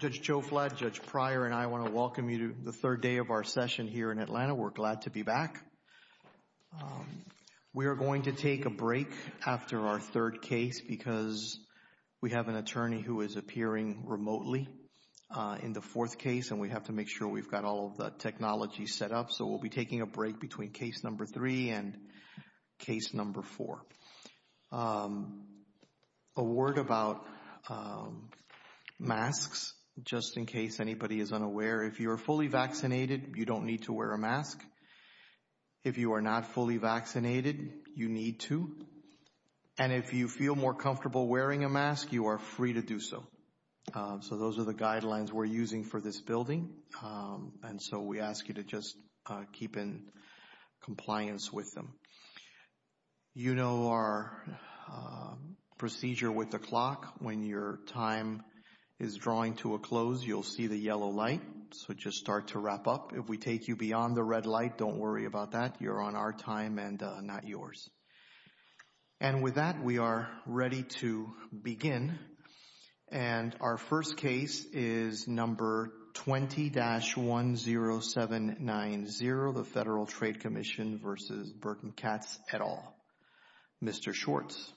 Judge Joe Fladd, Judge Pryor, and I want to welcome you to the third day of our session here in Atlanta. We're glad to be back. We are going to take a break after our third case because we have an attorney who is appearing remotely in the fourth case, and we have to make sure we've got all of the technology set up. So, we'll be taking a break between case number three and case number four. A word about masks, just in case anybody is unaware. If you're fully vaccinated, you don't need to wear a mask. If you are not fully vaccinated, you need to. And if you feel more comfortable wearing a mask, you are free to do so. So those are the guidelines we're using for this building. And so, we ask you to just keep in compliance with them. You know our procedure with the clock. When your time is drawing to a close, you'll see the yellow light, so just start to wrap up. If we take you beyond the red light, don't worry about that. You're on our time and not yours. And with that, we are ready to begin. And our first case is number 20-10790, the Federal Trade Commission versus Burton Katz et al. Mr. Schwartz.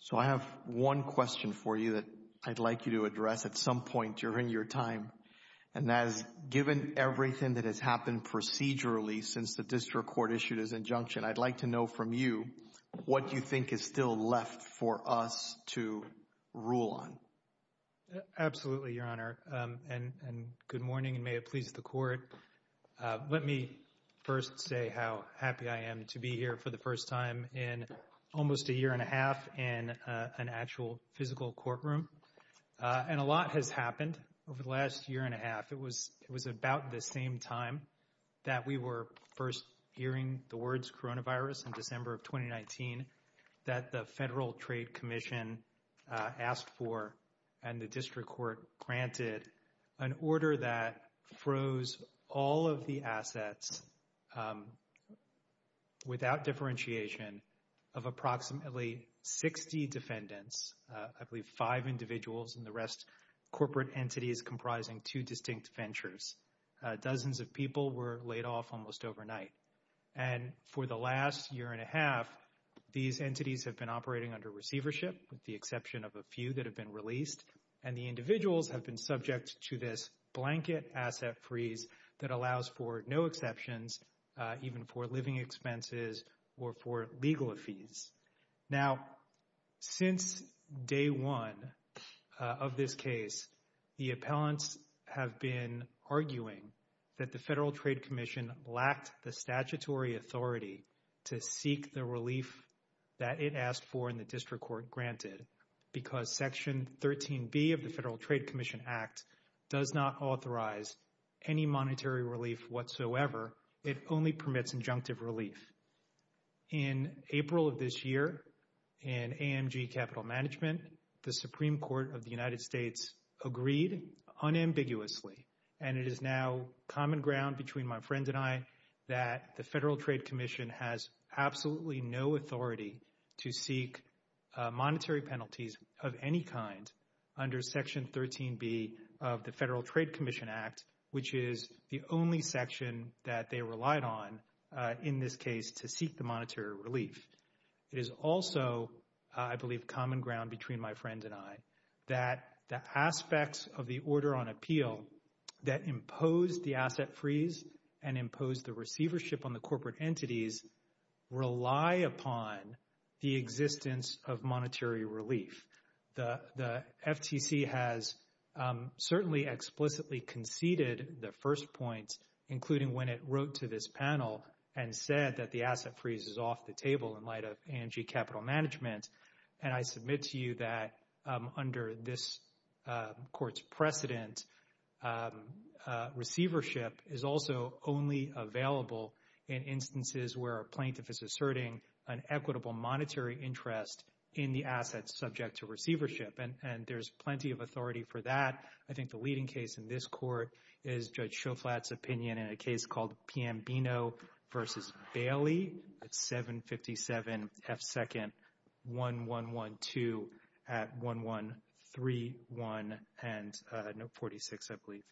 So I have one question for you that I'd like you to address at some point during your time. And as given everything that has happened procedurally since the District Court issued its injunction, I'd like to know from you, what do you think is still left for us to rule on? Absolutely, Your Honor, and good morning and may it please the Court. Let me first say how happy I am to be here for the first time in almost a year and a half in an actual physical courtroom. And a lot has happened over the last year and a half. It was about the same time that we were first hearing the words coronavirus in December of 2019 that the Federal Trade Commission asked for and the District Court granted an order that froze all of the assets without differentiation of approximately 60 defendants, I believe five individuals and the rest corporate entities comprising two distinct ventures. Dozens of people were laid off almost overnight. And for the last year and a half, these entities have been operating under receivership with the exception of a few that have been released. And the individuals have been subject to this blanket asset freeze that allows for no exceptions, even for living expenses or for legal fees. Now, since day one of this case, the appellants have been arguing that the Federal Trade Commission lacked the statutory authority to seek the relief that it asked for in the District Court granted because Section 13B of the Federal Trade Commission Act does not authorize any monetary relief whatsoever. It only permits injunctive relief. In April of this year, in AMG Capital Management, the Supreme Court of the United States agreed unambiguously, and it is now common ground between my friends and I, that the Federal Trade Commission has absolutely no authority to seek monetary penalties of any kind under Section 13B of the Federal Trade Commission Act, which is the only section that they relied on in this case to seek the monetary relief. It is also, I believe, common ground between my friends and I that the aspects of the order on appeal that imposed the asset freeze and imposed the receivership on the corporate entities rely upon the existence of monetary relief. The FTC has certainly explicitly conceded the first points, including when it wrote to this panel and said that the asset freeze is off the table in light of AMG Capital Management, and I submit to you that under this Court's precedent, receivership is also only available in instances where a plaintiff is asserting an equitable monetary interest in the asset subject to receivership, and there's plenty of authority for that. I think the leading case in this Court is Judge Schoflat's opinion in a case called P.M. Bino v. Bailey at 757 F. 2nd, 1112 at 1131 and note 46, I believe.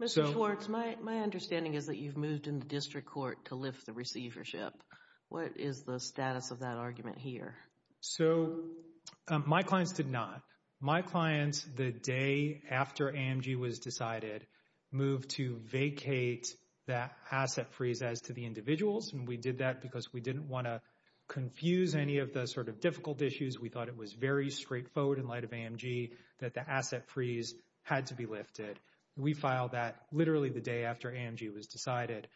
Mr. Schwartz, my understanding is that you've moved in the district court to lift the receivership. What is the status of that argument here? So my clients did not. My clients, the day after AMG was decided, moved to vacate that asset freeze as to the individuals, and we did that because we didn't want to confuse any of the sort of difficult issues. We thought it was very straightforward in light of AMG that the asset freeze had to be lifted. We filed that literally the day after AMG was decided,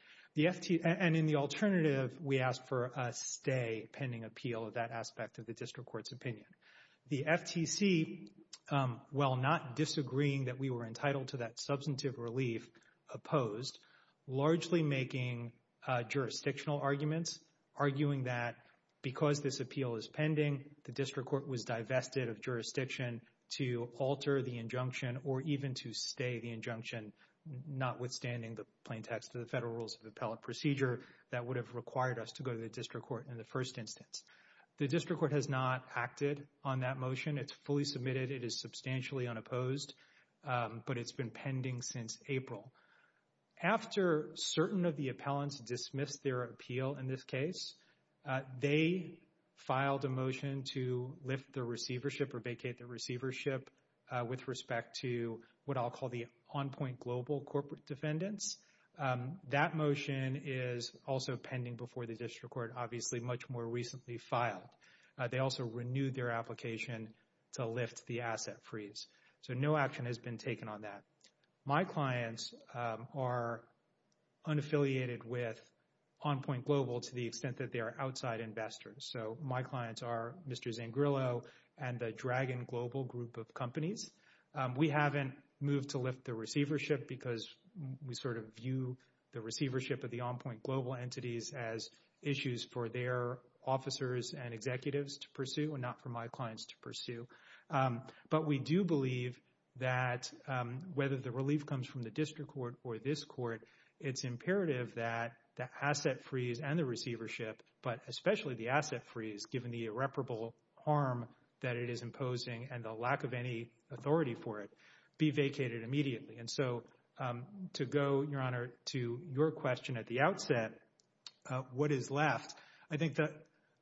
and in the alternative, we asked for a stay pending appeal of that aspect of the district court's opinion. The FTC, while not disagreeing that we were entitled to that substantive relief, opposed, largely making jurisdictional arguments, arguing that because this appeal is pending, the district court was divested of jurisdiction to alter the injunction or even to stay the injunction, notwithstanding the plain text of the Federal Rules of Appellate Procedure that would have required us to go to the district court in the first instance. The district court has not acted on that motion. It's fully submitted. It is substantially unopposed, but it's been pending since April. After certain of the appellants dismissed their appeal in this case, they filed a motion to lift the receivership or vacate the receivership with respect to what I'll call the on-point global corporate defendants. That motion is also pending before the district court, obviously much more recently filed. They also renewed their application to lift the asset freeze. So no action has been taken on that. My clients are unaffiliated with on-point global to the extent that they are outside investors. So my clients are Mr. Zangrillo and the Dragon Global group of companies. We haven't moved to lift the receivership because we sort of view the receivership of the on-point global entities as issues for their officers and executives to pursue and not for my clients to pursue. But we do believe that whether the relief comes from the district court or this court, it's imperative that the asset freeze and the receivership, but especially the asset freeze, given the irreparable harm that it is imposing and the lack of any authority for it, be vacated immediately. And so to go, Your Honor, to your question at the outset, what is left, I think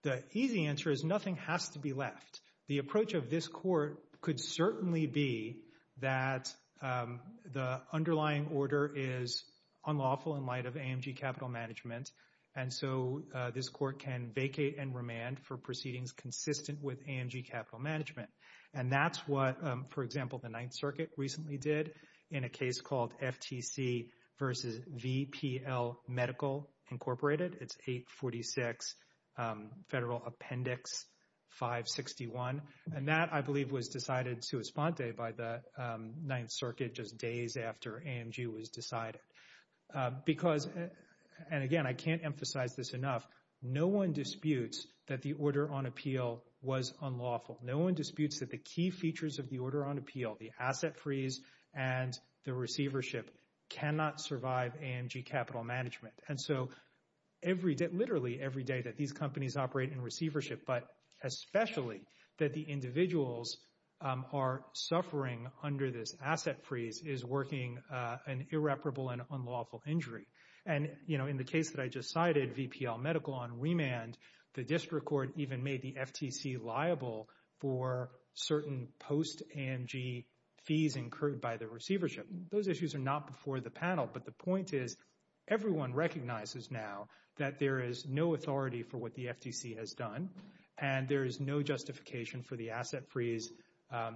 the easy answer is nothing has to be left. The approach of this court could certainly be that the underlying order is unlawful in and vacate and remand for proceedings consistent with AMG Capital Management. And that's what, for example, the Ninth Circuit recently did in a case called FTC versus VPL Medical Incorporated. It's 846 Federal Appendix 561. And that, I believe, was decided sua sponte by the Ninth Circuit just days after AMG was decided. Because, and again, I can't emphasize this enough, no one disputes that the order on appeal was unlawful. No one disputes that the key features of the order on appeal, the asset freeze and the receivership cannot survive AMG Capital Management. And so every day, literally every day that these companies operate in receivership, but especially that the individuals are suffering under this asset freeze is working an irreparable and unlawful injury. And, you know, in the case that I just cited, VPL Medical on remand, the district court even made the FTC liable for certain post-AMG fees incurred by the receivership. Those issues are not before the panel, but the point is everyone recognizes now that there is no authority for what the FTC has done and there is no justification for the asset freeze,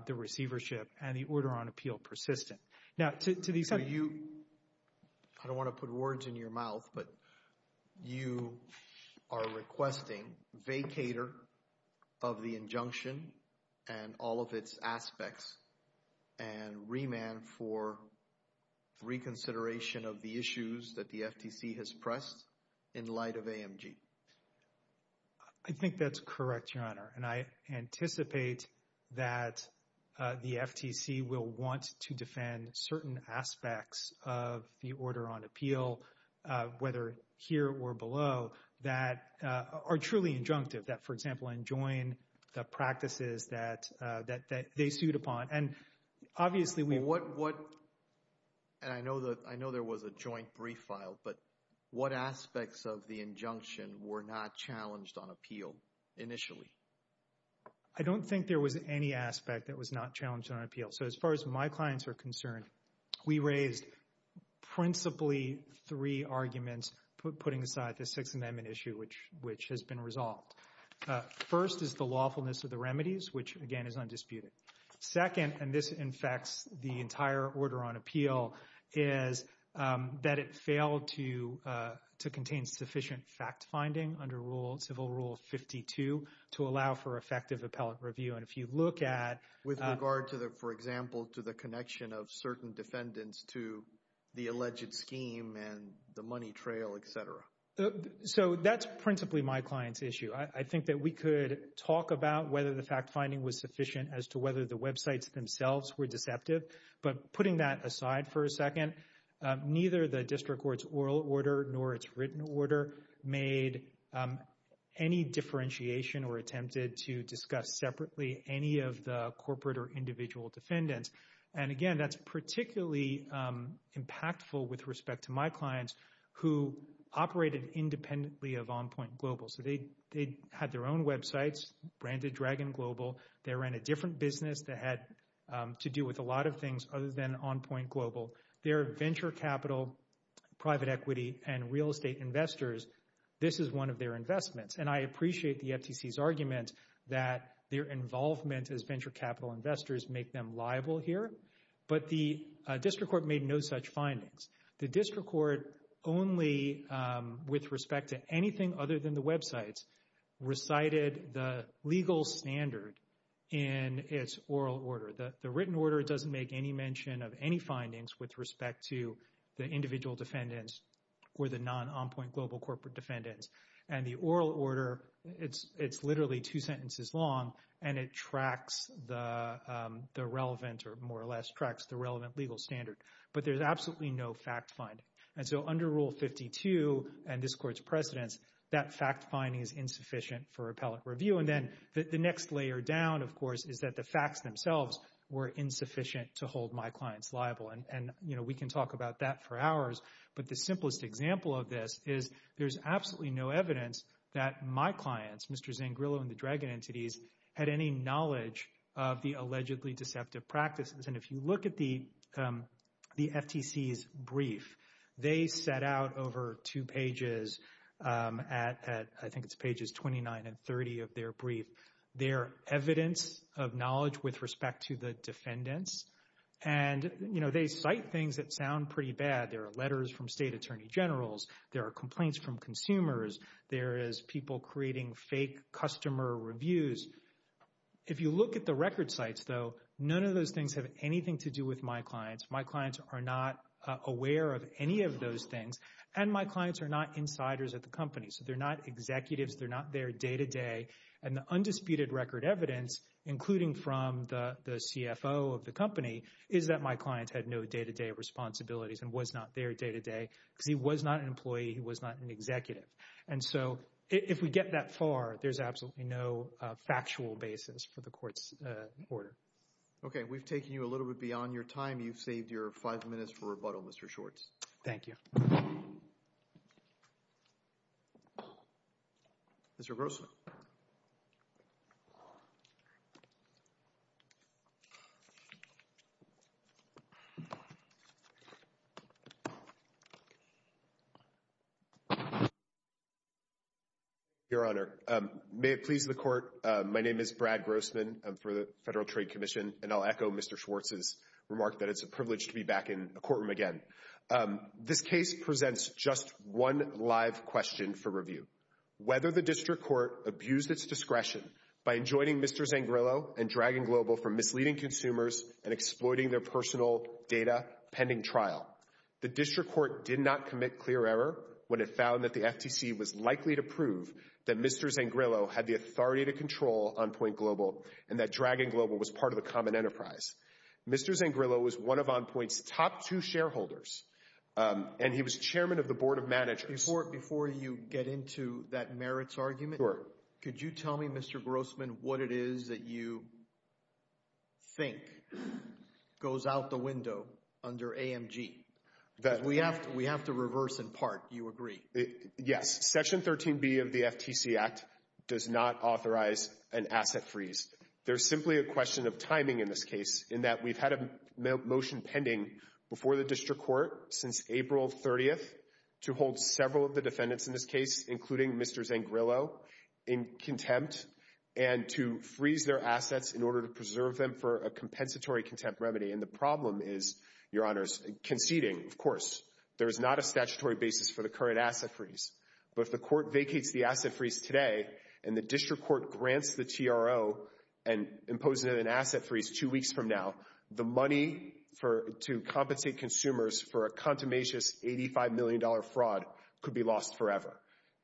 the receivership, and the order on appeal persistent. Now, to the extent that you, I don't want to put words in your mouth, but you are requesting vacator of the injunction and all of its aspects and remand for reconsideration of the issues that the FTC has pressed in light of AMG. I think that's correct, Your Honor, and I anticipate that the FTC will want to defend certain aspects of the order on appeal, whether here or below, that are truly injunctive, that, for example, enjoin the practices that they sued upon. And obviously, we— What—and I know there was a joint brief file, but what aspects of the injunction were not challenged on appeal initially? I don't think there was any aspect that was not challenged on appeal. So, as far as my clients are concerned, we raised principally three arguments putting aside the Sixth Amendment issue, which has been resolved. First is the lawfulness of the remedies, which, again, is undisputed. Second, and this infects the entire order on appeal, is that it failed to contain sufficient fact-finding under Civil Rule 52 to allow for effective appellate review. And if you look at— With regard to the, for example, to the connection of certain defendants to the alleged scheme and the money trail, et cetera. So that's principally my client's issue. I think that we could talk about whether the fact-finding was sufficient as to whether the websites themselves were deceptive. But putting that aside for a second, neither the district court's oral order nor its written order made any differentiation or attempted to discuss separately any of the corporate or individual defendants. And again, that's particularly impactful with respect to my clients who operated independently of En Pointe Global. So they had their own websites branded Dragon Global. They ran a different business that had to do with a lot of things other than En Pointe Global. They're venture capital, private equity, and real estate investors. This is one of their investments. And I appreciate the FTC's argument that their involvement as venture capital investors make them liable here. But the district court made no such findings. The district court only, with respect to anything other than the websites, recited the legal standard in its oral order. The written order doesn't make any mention of any findings with respect to the individual defendants or the non-En Pointe Global corporate defendants. And the oral order, it's literally two sentences long, and it tracks the relevant, or more or less tracks the relevant legal standard. But there's absolutely no fact finding. And so under Rule 52 and this court's precedence, that fact finding is insufficient for appellate review. And then the next layer down, of course, is that the facts themselves were insufficient to hold my clients liable. And we can talk about that for hours, but the simplest example of this is there's absolutely no evidence that my clients, Mr. Zangrillo and the Dragon entities, had any knowledge of the allegedly deceptive practices. And if you look at the FTC's brief, they set out over two pages at, I think it's pages 29 and 30 of their brief, their evidence of knowledge with respect to the defendants. And they cite things that sound pretty bad. There are letters from state attorney generals. There are complaints from consumers. There is people creating fake customer reviews. If you look at the record sites, though, none of those things have anything to do with my clients. My clients are not aware of any of those things, and my clients are not insiders at the company. So they're not executives. They're not there day to day. And the undisputed record evidence, including from the CFO of the company, is that my client had no day to day responsibilities and was not there day to day because he was not an employee. He was not an executive. And so if we get that far, there's absolutely no factual basis for the court's order. Okay. We've taken you a little bit beyond your time. You've saved your five minutes for rebuttal, Mr. Shorts. Thank you. Mr. Grossman. Your Honor, may it please the court. My name is Brad Grossman. I'm for the Federal Trade Commission, and I'll echo Mr. Schwartz's remark that it's a privilege to be back in a courtroom again. This case presents just one live question for review. Whether the district court abused its discretion by enjoining Mr. Zangrillo and Dragon Global from misleading consumers and exploiting their personal data pending trial. The district court did not commit clear error when it found that the FTC was likely to prove that Mr. Zangrillo had the authority to control Enpointe Global and that Dragon Global was part of a common enterprise. Mr. Zangrillo was one of Enpointe's top two shareholders, and he was chairman of the board of managers. Before you get into that merits argument, could you tell me, Mr. Grossman, what it is that you think goes out the window under AMG? We have to reverse in part. You agree? Yes. Section 13B of the FTC Act does not authorize an asset freeze. There's simply a question of timing in this case in that we've had a motion pending before the district court since April 30th to hold several of the defendants in this case, including Mr. Zangrillo, in contempt and to freeze their assets in order to preserve them for a compensatory contempt remedy. And the problem is, Your Honors, conceding, of course. There is not a statutory basis for the current asset freeze. But if the court vacates the asset freeze today and the district court grants the TRO and imposes an asset freeze two weeks from now, the money to compensate consumers for a contumacious $85 million fraud could be lost forever.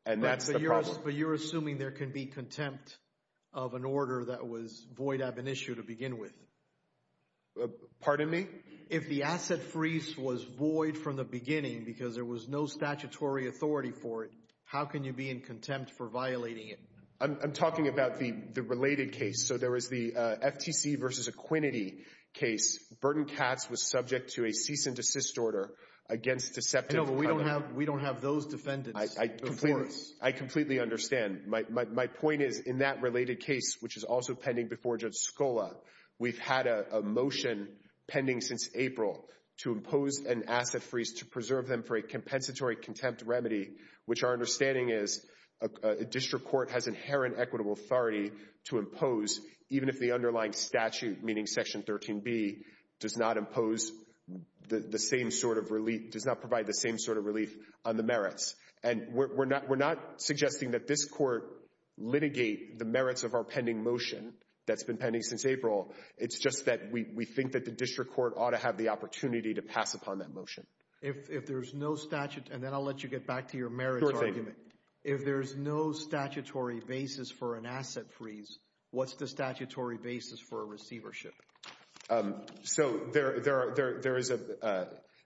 And that's the problem. But you're assuming there can be contempt of an order that was void ab initio to begin with. Pardon me? If the asset freeze was void from the beginning because there was no statutory authority for it, how can you be in contempt for violating it? I'm talking about the related case. So there was the FTC v. Equinity case. Burton Katz was subject to a cease and desist order against deceptive cover. We don't have those defendants before us. I completely understand. My point is, in that related case, which is also pending before Judge Scola, we've had a motion pending since April to impose an asset freeze to preserve them for a compensatory contempt remedy, which our understanding is a district court has inherent equitable authority to impose, even if the underlying statute, meaning Section 13B, does not provide the same sort of relief on the merits. And we're not suggesting that this court litigate the merits of our pending motion that's been pending since April. It's just that we think that the district court ought to have the opportunity to pass upon that motion. If there's no statute, and then I'll let you get back to your merits argument. If there's no statutory basis for an asset freeze, what's the statutory basis for a receivership? So there is a,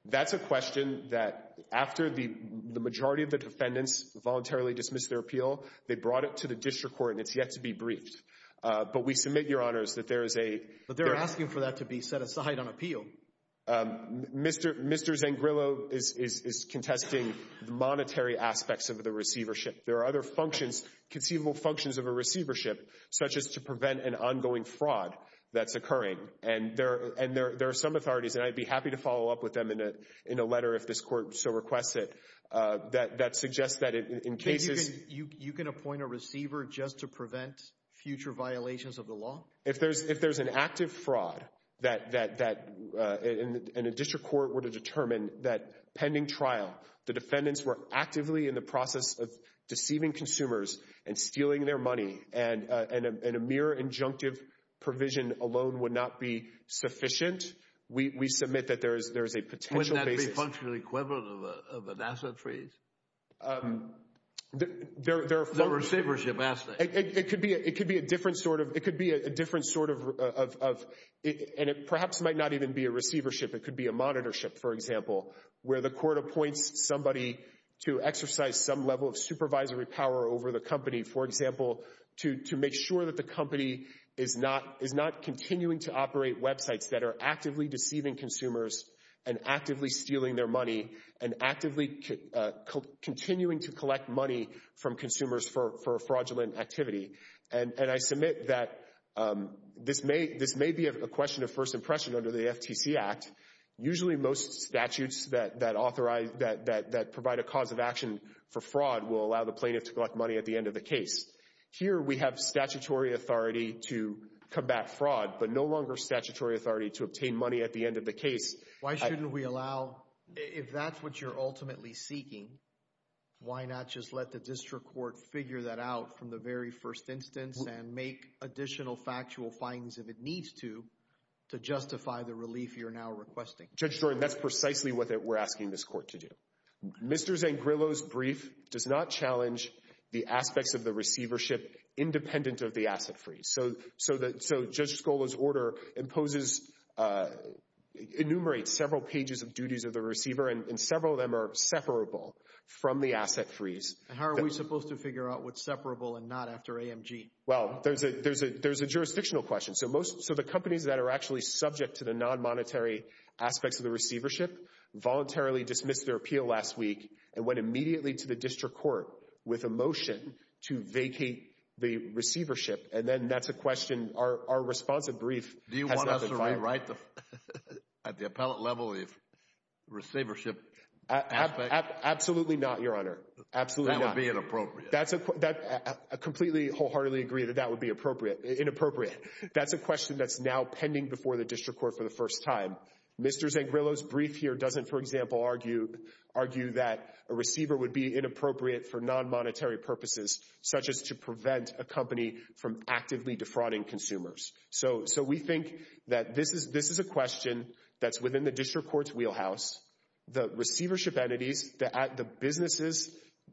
that's a question that after the majority of the defendants voluntarily dismissed their appeal, they brought it to the district court and it's yet to be briefed. But we submit, Your Honors, that there is a But they're asking for that to be set aside on appeal. Mr. Zangrillo is contesting the monetary aspects of the receivership. There are other functions, conceivable functions of a receivership, such as to prevent an ongoing fraud that's occurring. And there are some authorities, and I'd be happy to follow up with them in a letter if this court so requests it, that suggests that in cases You can appoint a receiver just to prevent future violations of the law? If there's an active fraud that, and a district court were to determine that pending trial, the defendants were actively in the process of deceiving consumers and stealing their money and a mere injunctive provision alone would not be sufficient, we submit that there is a potential basis. Wouldn't that be functionally equivalent of an asset freeze? The receivership asset. It could be a different sort of, and it perhaps might not even be a receivership, it could be a monitorship, for example, where the court appoints somebody to exercise some level of supervisory power over the company, for example, to make sure that the company is not continuing to operate websites that are actively deceiving consumers and actively stealing their money and actively continuing to collect money from consumers for fraudulent activity. And I submit that this may be a question of first impression under the FTC Act. Usually most statutes that authorize, that provide a cause of action for fraud will allow the plaintiff to collect money at the end of the case. Here we have statutory authority to combat fraud, but no longer statutory authority to obtain money at the end of the case. Why shouldn't we allow, if that's what you're ultimately seeking, why not just let the district court figure that out from the very first instance and make additional factual findings if it needs to, to justify the relief you're now requesting? Judge Jordan, that's precisely what we're asking this court to do. Mr. Zangrillo's brief does not challenge the aspects of the receivership independent of the asset freeze. So Judge Scola's order imposes, enumerates several pages of duties of the receiver and several of them are separable from the asset freeze. And how are we supposed to figure out what's separable and not after AMG? Well, there's a jurisdictional question. So the companies that are actually subject to the non-monetary aspects of the receivership voluntarily dismissed their appeal last week and went immediately to the district court with a motion to vacate the receivership. And then that's a question our responsive brief has not defined. Do you want us to rewrite at the appellate level the receivership aspect? Absolutely not, Your Honor. Absolutely not. That would be inappropriate. I completely wholeheartedly agree that that would be inappropriate. That's a question that's now pending before the district court for the first time. Mr. Zangrillo's brief here doesn't, for example, argue that a receiver would be inappropriate for non-monetary purposes, such as to prevent a company from actively defrauding consumers. So we think that this is a question that's within the district court's wheelhouse. The receivership entities, the businesses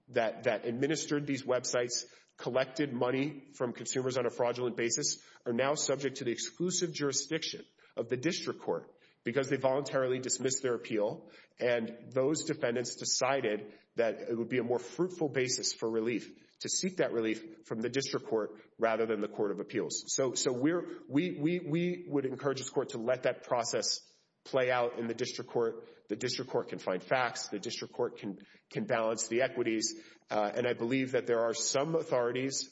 that administered these websites, collected money from consumers on a fraudulent basis, are now subject to the exclusive jurisdiction of the district court because they voluntarily dismissed their appeal and those defendants decided that it would be a more fruitful basis for relief, to seek that relief from the district court rather than the court of appeals. So we would encourage this court to let that process play out in the district court. The district court can find facts. The district court can balance the equities. And I believe that there are some authorities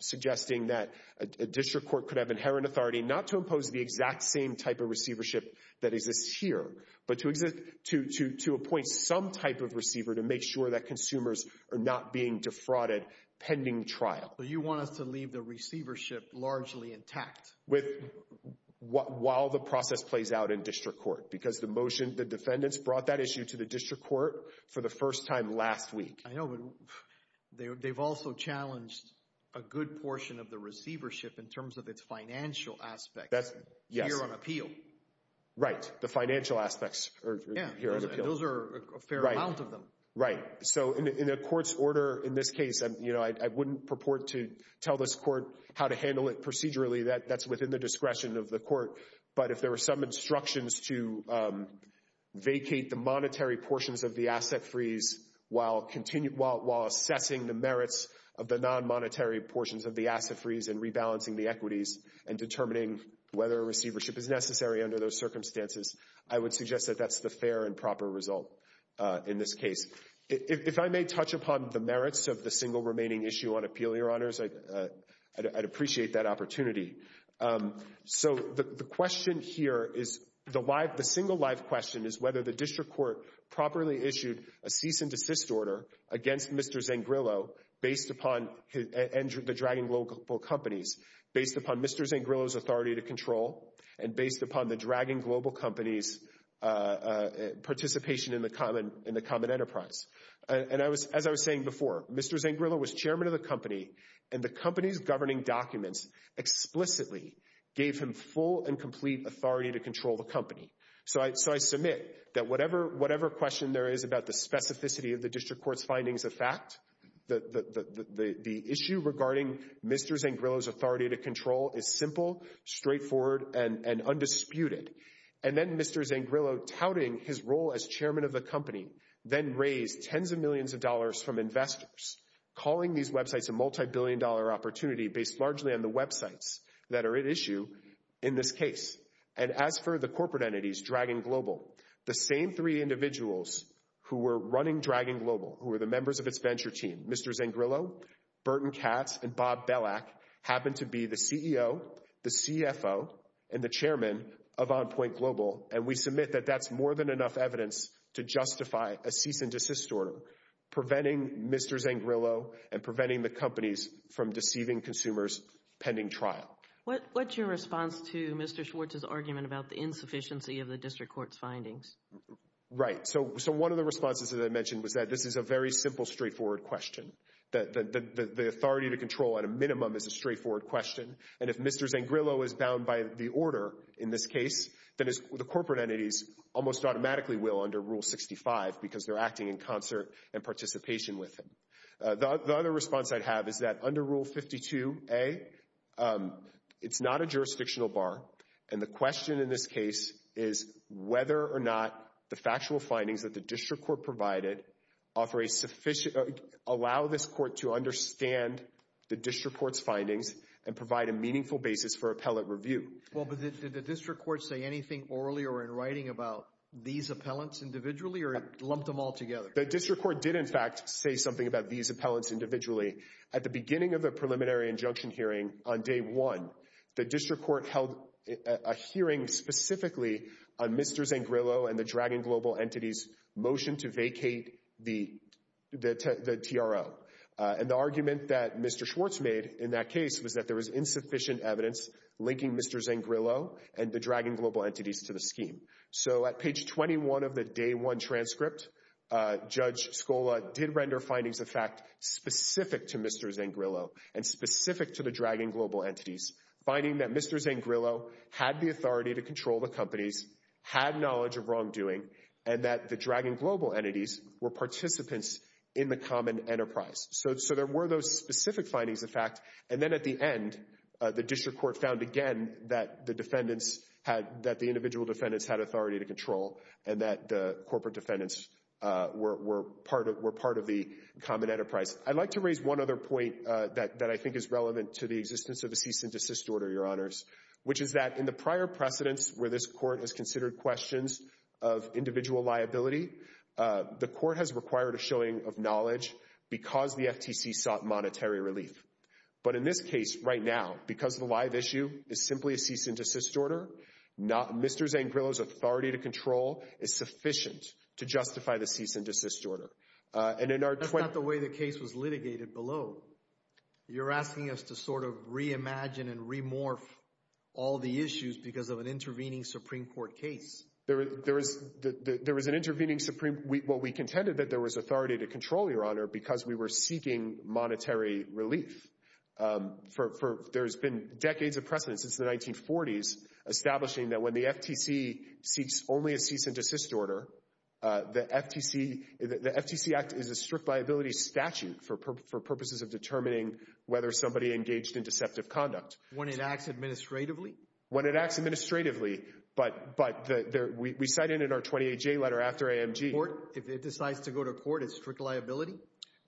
suggesting that a district court could have inherent authority not to impose the exact same type of receivership that exists here, but to appoint some type of receiver to make sure that consumers are not being defrauded pending trial. So you want us to leave the receivership largely intact? While the process plays out in district court. Because the motion, the defendants brought that issue to the district court for the first time last week. I know, but they've also challenged a good portion of the receivership in terms of its financial aspect here on appeal. Right, the financial aspects here on appeal. Those are a fair amount of them. Right, so in a court's order in this case, I wouldn't purport to tell this court how to handle it procedurally. That's within the discretion of the court. But if there were some instructions to vacate the monetary portions of the asset freeze while assessing the merits of the non-monetary portions of the asset freeze and rebalancing the equities and determining whether a receivership is necessary under those circumstances, I would suggest that that's the fair and proper result in this case. If I may touch upon the merits of the single remaining issue on appeal, Your Honors, I'd appreciate that opportunity. So the question here is, the single live question is whether the district court properly issued a cease and desist order against Mr. Zangrillo and the Dragon Global Companies based upon Mr. Zangrillo's authority to control and based upon the Dragon Global Companies' participation in the common enterprise. And as I was saying before, Mr. Zangrillo was chairman of the company, and the company's governing documents explicitly gave him full and complete authority to control the company. So I submit that whatever question there is about the specificity of the district court's findings of fact, the issue regarding Mr. Zangrillo's authority to control is simple, straightforward, and undisputed. And then Mr. Zangrillo touting his role as chairman of the company then raised tens of millions of dollars from investors, calling these websites a multi-billion dollar opportunity based largely on the websites that are at issue in this case. And as for the corporate entities, Dragon Global, the same three individuals who were running Dragon Global, who were the members of its venture team, Mr. Zangrillo, Burton Katz, and Bob Belak, happened to be the CEO, the CFO, and the chairman of OnPoint Global. And we submit that that's more than enough evidence to justify a cease and desist order preventing Mr. Zangrillo and preventing the companies from deceiving consumers pending trial. What's your response to Mr. Schwartz's argument about the insufficiency of the district court's findings? Right. So one of the responses that I mentioned was that this is a very simple, straightforward question. That the authority to control at a minimum is a straightforward question. And if Mr. Zangrillo is bound by the order in this case, then the corporate entities almost automatically will under Rule 65 because they're acting in concert and participation with him. The other response I'd have is that under Rule 52A, it's not a jurisdictional bar. And the question in this case is whether or not the factual findings that the district court provided allow this court to understand the district court's findings and provide a meaningful basis for appellate review. Well, but did the district court say anything orally or in writing about these appellants individually or lumped them all together? The district court did in fact say something about these appellants individually. At the beginning of the preliminary injunction hearing on day one, the district court held a hearing specifically on Mr. Zangrillo and the Dragon Global Entities' motion to vacate the TRO. And the argument that Mr. Schwartz made in that case was that there was insufficient evidence linking Mr. Zangrillo and the Dragon Global Entities to the scheme. So at page 21 of the day one transcript, Judge Scola did render findings of fact specific to Mr. Zangrillo and specific to the Dragon Global Entities, finding that Mr. Zangrillo had the authority to control the companies, had knowledge of wrongdoing, and that the Dragon Global Entities were participants in the common enterprise. So there were those specific findings of fact. And then at the end, the district court found again that the defendants had, that the individual defendants had authority to control and that the corporate defendants were part of the common enterprise. I'd like to raise one other point that I think is relevant to the existence of a cease and desist order, Your Honors, which is that in the prior precedents where this court has considered questions of individual liability, the court has required a showing of knowledge because the FTC sought monetary relief. But in this case right now, because the live issue is simply a cease and desist order, Mr. Zangrillo's authority to control is sufficient to justify the cease and desist order. And in our... That's not the way the case was litigated below. You're asking us to sort of reimagine and remorph all the issues because of an intervening Supreme Court case. There was an intervening Supreme, well, we contended that there was authority to control, Your Honor, because we were seeking monetary relief. There's been decades of precedents since the 1940s establishing that when the FTC seeks only a cease and desist order, the FTC Act is a strict liability statute for purposes of determining whether somebody engaged in deceptive conduct. When it acts administratively? When it acts administratively, but we cite it in our 28J letter after AMG. If it decides to go to court, it's strict liability?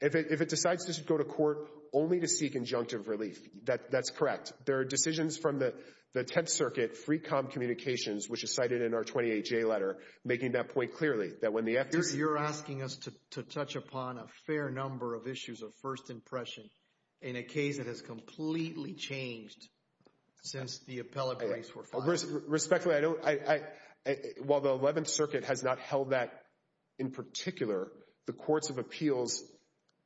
If it decides to go to court only to seek injunctive relief, that's correct. There are decisions from the 10th Circuit, Free Comm Communications, which is cited in our 28J letter, making that point clearly, that when the FTC... You're asking us to touch upon a fair number of issues of first impression in a case that has completely changed since the appellate briefs were filed. Respectfully, I don't... While the 11th Circuit has not held that in particular, the courts of appeals,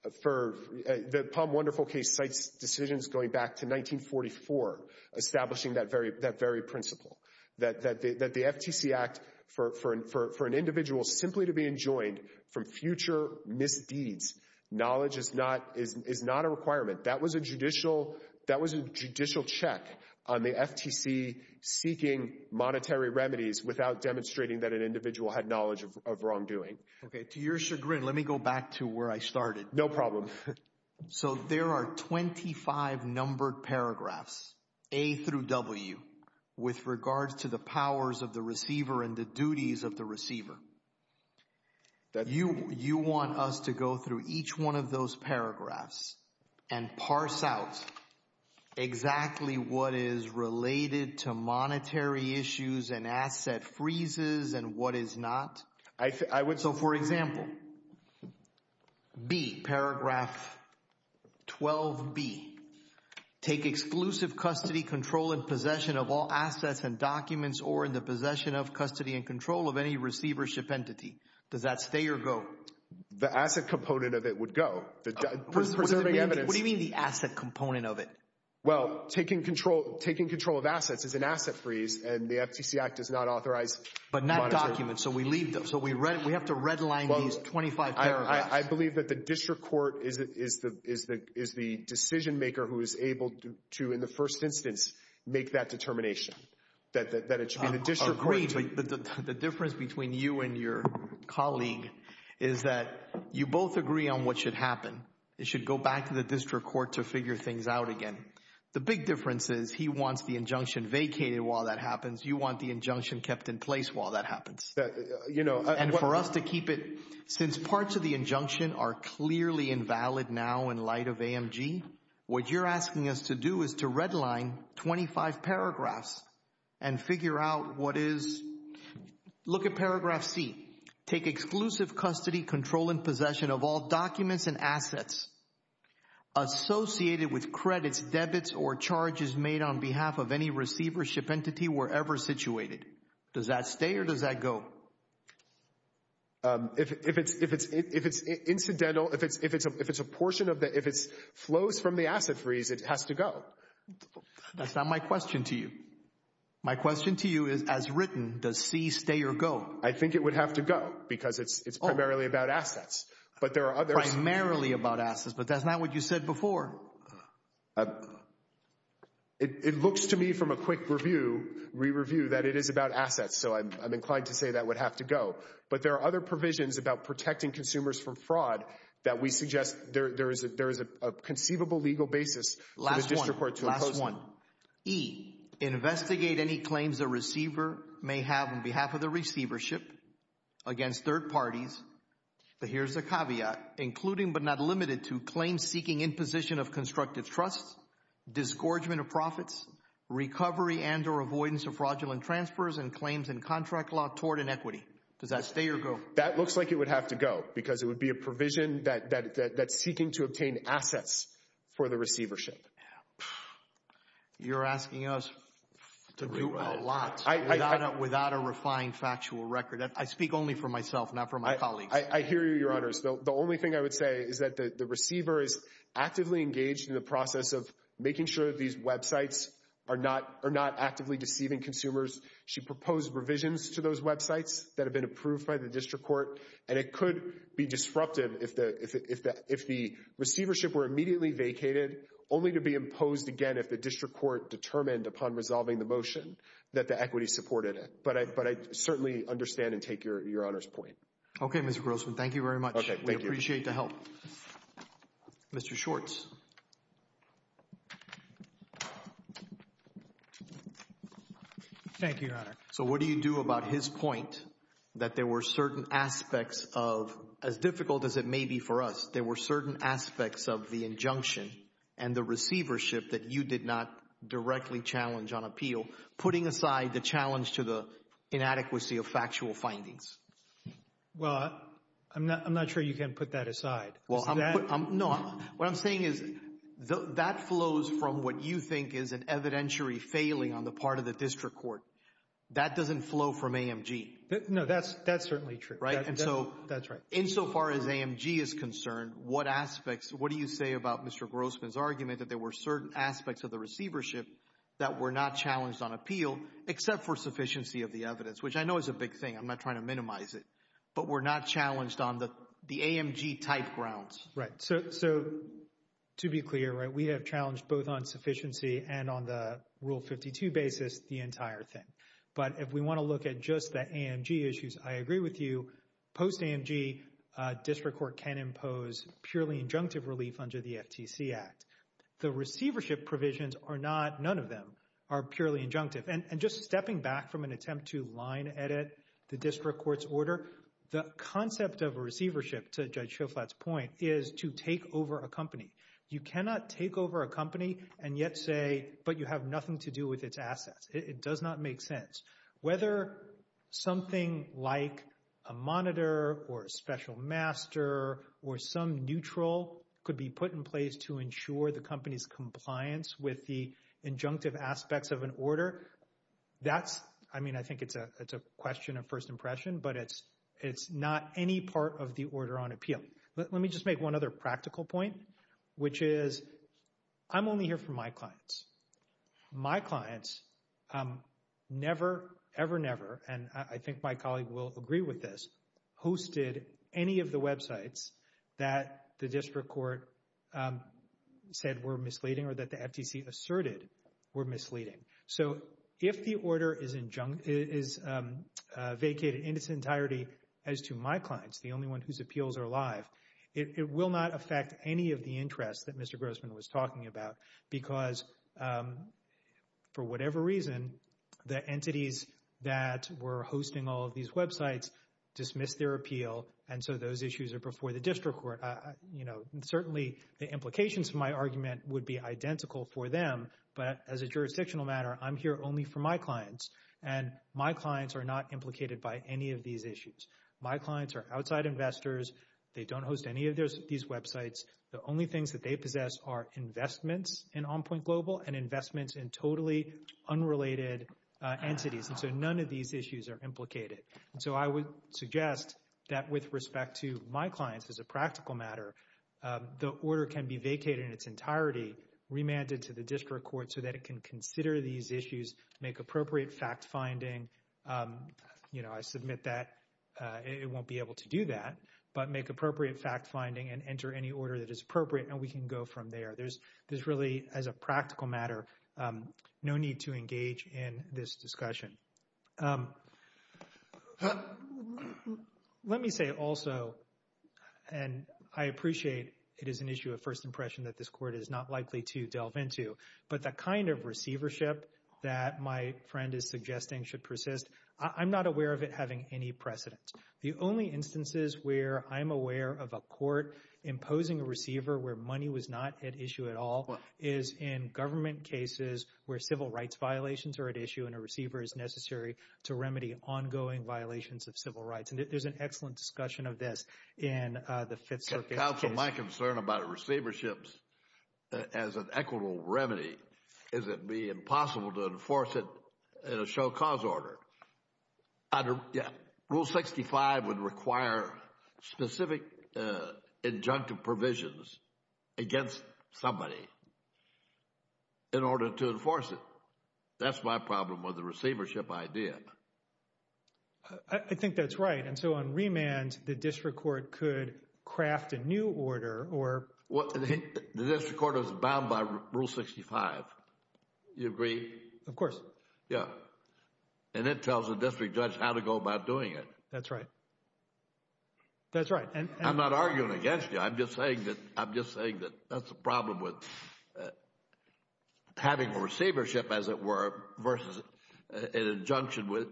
the Palm Wonderful case cites decisions going back to 1944, establishing that very principle, that the FTC Act for an individual simply to be enjoined from future misdeeds, knowledge is not a requirement. That was a judicial check on the FTC seeking monetary remedies without demonstrating that an individual had knowledge of wrongdoing. Okay, to your chagrin, let me go back to where I started. No problem. So, there are 25 numbered paragraphs, A through W, with regards to the powers of the receiver and the duties of the receiver. You want us to go through each one of those paragraphs and parse out exactly what is related to monetary issues and asset freezes and what is not? I would... So, for example, B, paragraph 12B, take exclusive custody, control, and possession of all assets and documents or in the possession of custody and control of any receivership entity. Does that stay or go? The asset component of it would go. Preserving evidence... What do you mean the asset component of it? Well, taking control of assets is an asset freeze and the FTC Act does not authorize monetary... But not documents, so we leave them. So, we have to redline these 25 paragraphs. I believe that the district court is the decision maker who is able to, in the first instance, make that determination. That it should be the district court... I agree, but the difference between you and your colleague is that you both agree on what should happen. It should go back to the district court to figure things out again. The big difference is he wants the injunction vacated while that happens. You want the injunction kept in place while that happens. You know... And for us to keep it... Since parts of the injunction are clearly invalid now in light of AMG, what you're asking us to do is to redline 25 paragraphs and figure out what is... Look at paragraph C. Take exclusive custody, control, and possession of all documents and assets associated with credits, debits, or charges made on behalf of any receivership entity wherever situated. Does that stay or does that go? If it's incidental, if it's a portion of the... If it flows from the asset freeze, it has to go. That's not my question to you. My question to you is, as written, does C stay or go? I think it would have to go because it's primarily about assets. But there are others... Primarily about assets, but that's not what you said before. It looks to me from a quick review that it is about assets, so I'm inclined to say that it would have to go. But there are other provisions about protecting consumers from fraud that we suggest there is a conceivable legal basis for the district court to impose on them. Last one. E, investigate any claims a receiver may have on behalf of the receivership against third parties, but here's the caveat, including but not limited to claims seeking imposition of constructive trust, disgorgement of profits, recovery and or avoidance of fraudulent transfers and claims in contract law toward an equity. Does that stay or go? That looks like it would have to go because it would be a provision that's seeking to obtain assets for the receivership. You're asking us to do a lot without a refined factual record. I speak only for myself, not for my colleagues. I hear you, Your Honors. The only thing I would say is that the receiver is actively engaged in the process of making sure these websites are not actively deceiving consumers. She proposed revisions to those websites that have been approved by the district court and it could be disruptive if the receivership were immediately vacated only to be imposed again if the district court determined upon resolving the motion that the equity supported it. But I certainly understand and take your Honor's point. Okay, Mr. Grossman. Thank you very much. Okay, thank you. We appreciate the help. Mr. Schwartz. Thank you, Your Honor. So what do you do about his point that there were certain aspects of, as difficult as it may be for us, there were certain aspects of the injunction and the receivership that you did not directly challenge on appeal, putting aside the challenge to the inadequacy of factual findings? Well, I'm not sure you can put that aside. Well, no. What I'm saying is that flows from what you think is an evidentiary failing on the part of the district court. That doesn't flow from AMG. No, that's certainly true. Right? That's right. And so, insofar as AMG is concerned, what aspects, what do you say about Mr. Grossman's argument that there were certain aspects of the receivership that were not challenged on appeal except for sufficiency of the evidence, which I know is a big thing. I'm not trying to minimize it. But were not challenged on the AMG type grounds. Right. So, to be clear, right, we have challenged both on sufficiency and on the Rule 52 basis the entire thing. But if we want to look at just the AMG issues, I agree with you. Post-AMG, district court can impose purely injunctive relief under the FTC Act. The receivership provisions are not, none of them are purely injunctive. And just stepping back from an attempt to line edit the district court's order, the concept of receivership, to Judge Schoflat's point, is to take over a company. You cannot take over a company and yet say, but you have nothing to do with its assets. It does not make sense. Whether something like a monitor or a special master or some neutral could be put in place to ensure the company's compliance with the injunctive aspects of an order, that's, I mean, I think it's a question of first impression, but it's not any part of the order on appeal. Let me just make one other practical point, which is I'm only here for my clients. My clients never, ever, never, and I think my colleague will agree with this, hosted any of the websites that the district court said were misleading or that the FTC asserted were misleading. So if the order is vacated in its entirety as to my clients, the only one whose appeals are live, it will not affect any of the interests that Mr. Grossman was talking about because for whatever reason, the entities that were hosting all of these websites dismissed their appeal and so those issues are before the district court. You know, certainly the implications of my argument would be identical for them, but as a jurisdictional matter, I'm here only for my clients and my clients are not implicated by any of these issues. My clients are outside investors. They don't host any of these websites. The only things that they possess are investments in OnPoint Global and investments in totally unrelated entities. And so none of these issues are implicated. And so I would suggest that with respect to my clients as a practical matter, the order can be vacated in its entirety, remanded to the district court so that it can consider these issues, make appropriate fact finding. You know, I submit that it won't be able to do that, but make appropriate fact finding and enter any order that is appropriate and we can go from there. There's really, as a practical matter, no need to engage in this discussion. Let me say also, and I appreciate it is an issue of first impression that this court is not likely to delve into, but the kind of receivership that my friend is suggesting should persist, I'm not aware of it having any precedent. The only instances where I'm aware of a court imposing a receiver where money was not at issue at all is in government cases where civil rights violations are at issue and a receiver is necessary to remedy ongoing violations of civil rights. And there's an excellent discussion of this in the Fifth Circuit. Counsel, my concern about receiverships as an equitable remedy is it'd be impossible to enforce it in a show cause order. Under, yeah, Rule 65 would require specific injunctive provisions against somebody in order to enforce it. That's my problem with the receivership idea. I think that's right. And so on remand, the district court could craft a new order or... The district court is bound by Rule 65. You agree? Of course. Yeah. And it tells the district judge how to go about doing it. That's right. That's right. I'm not arguing against you. I'm just saying that that's the problem with having a receivership, as it were, versus an injunction with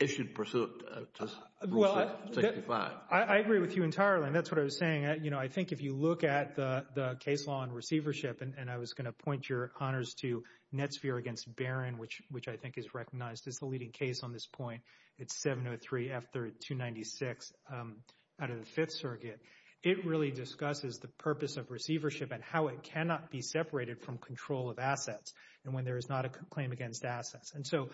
issued pursuant to Rule 65. I agree with you entirely, and that's what I was saying. You know, I think if you look at the case law on receivership, and I was going to point honors to Netsphere against Barron, which I think is recognized as the leading case on this point. It's 703 F-296 out of the Fifth Circuit. It really discusses the purpose of receivership and how it cannot be separated from control of assets and when there is not a claim against assets. And so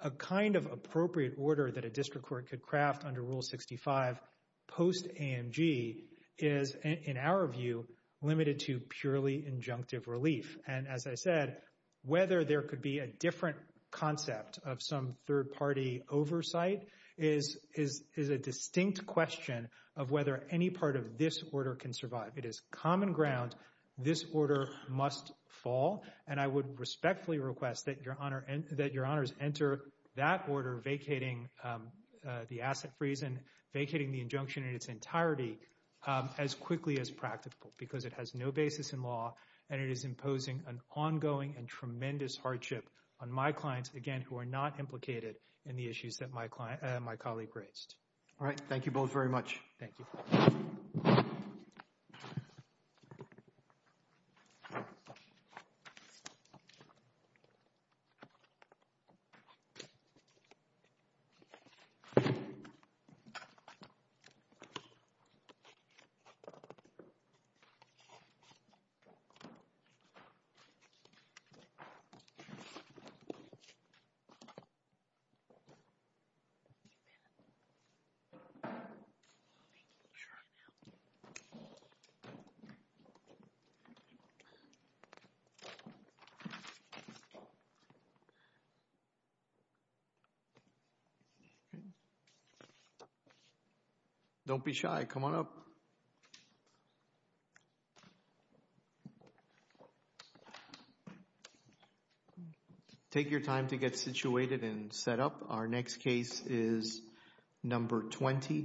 a kind of appropriate order that a district court could craft under Rule 65 post-AMG is, in our view, limited to purely injunctive relief. And as I said, whether there could be a different concept of some third-party oversight is a distinct question of whether any part of this order can survive. It is common ground. This order must fall, and I would respectfully request that your honors enter that order vacating the asset freeze and vacating the injunction in its entirety as quickly as practical because it has no basis in law and it is imposing an ongoing and tremendous hardship on my clients, again, who are not implicated in the issues that my client, my colleague raised. All right. Thank you both very much. Thank you. Thank you. Don't be shy. Come on up. Take your time to get situated and set up. Our next case is number 20.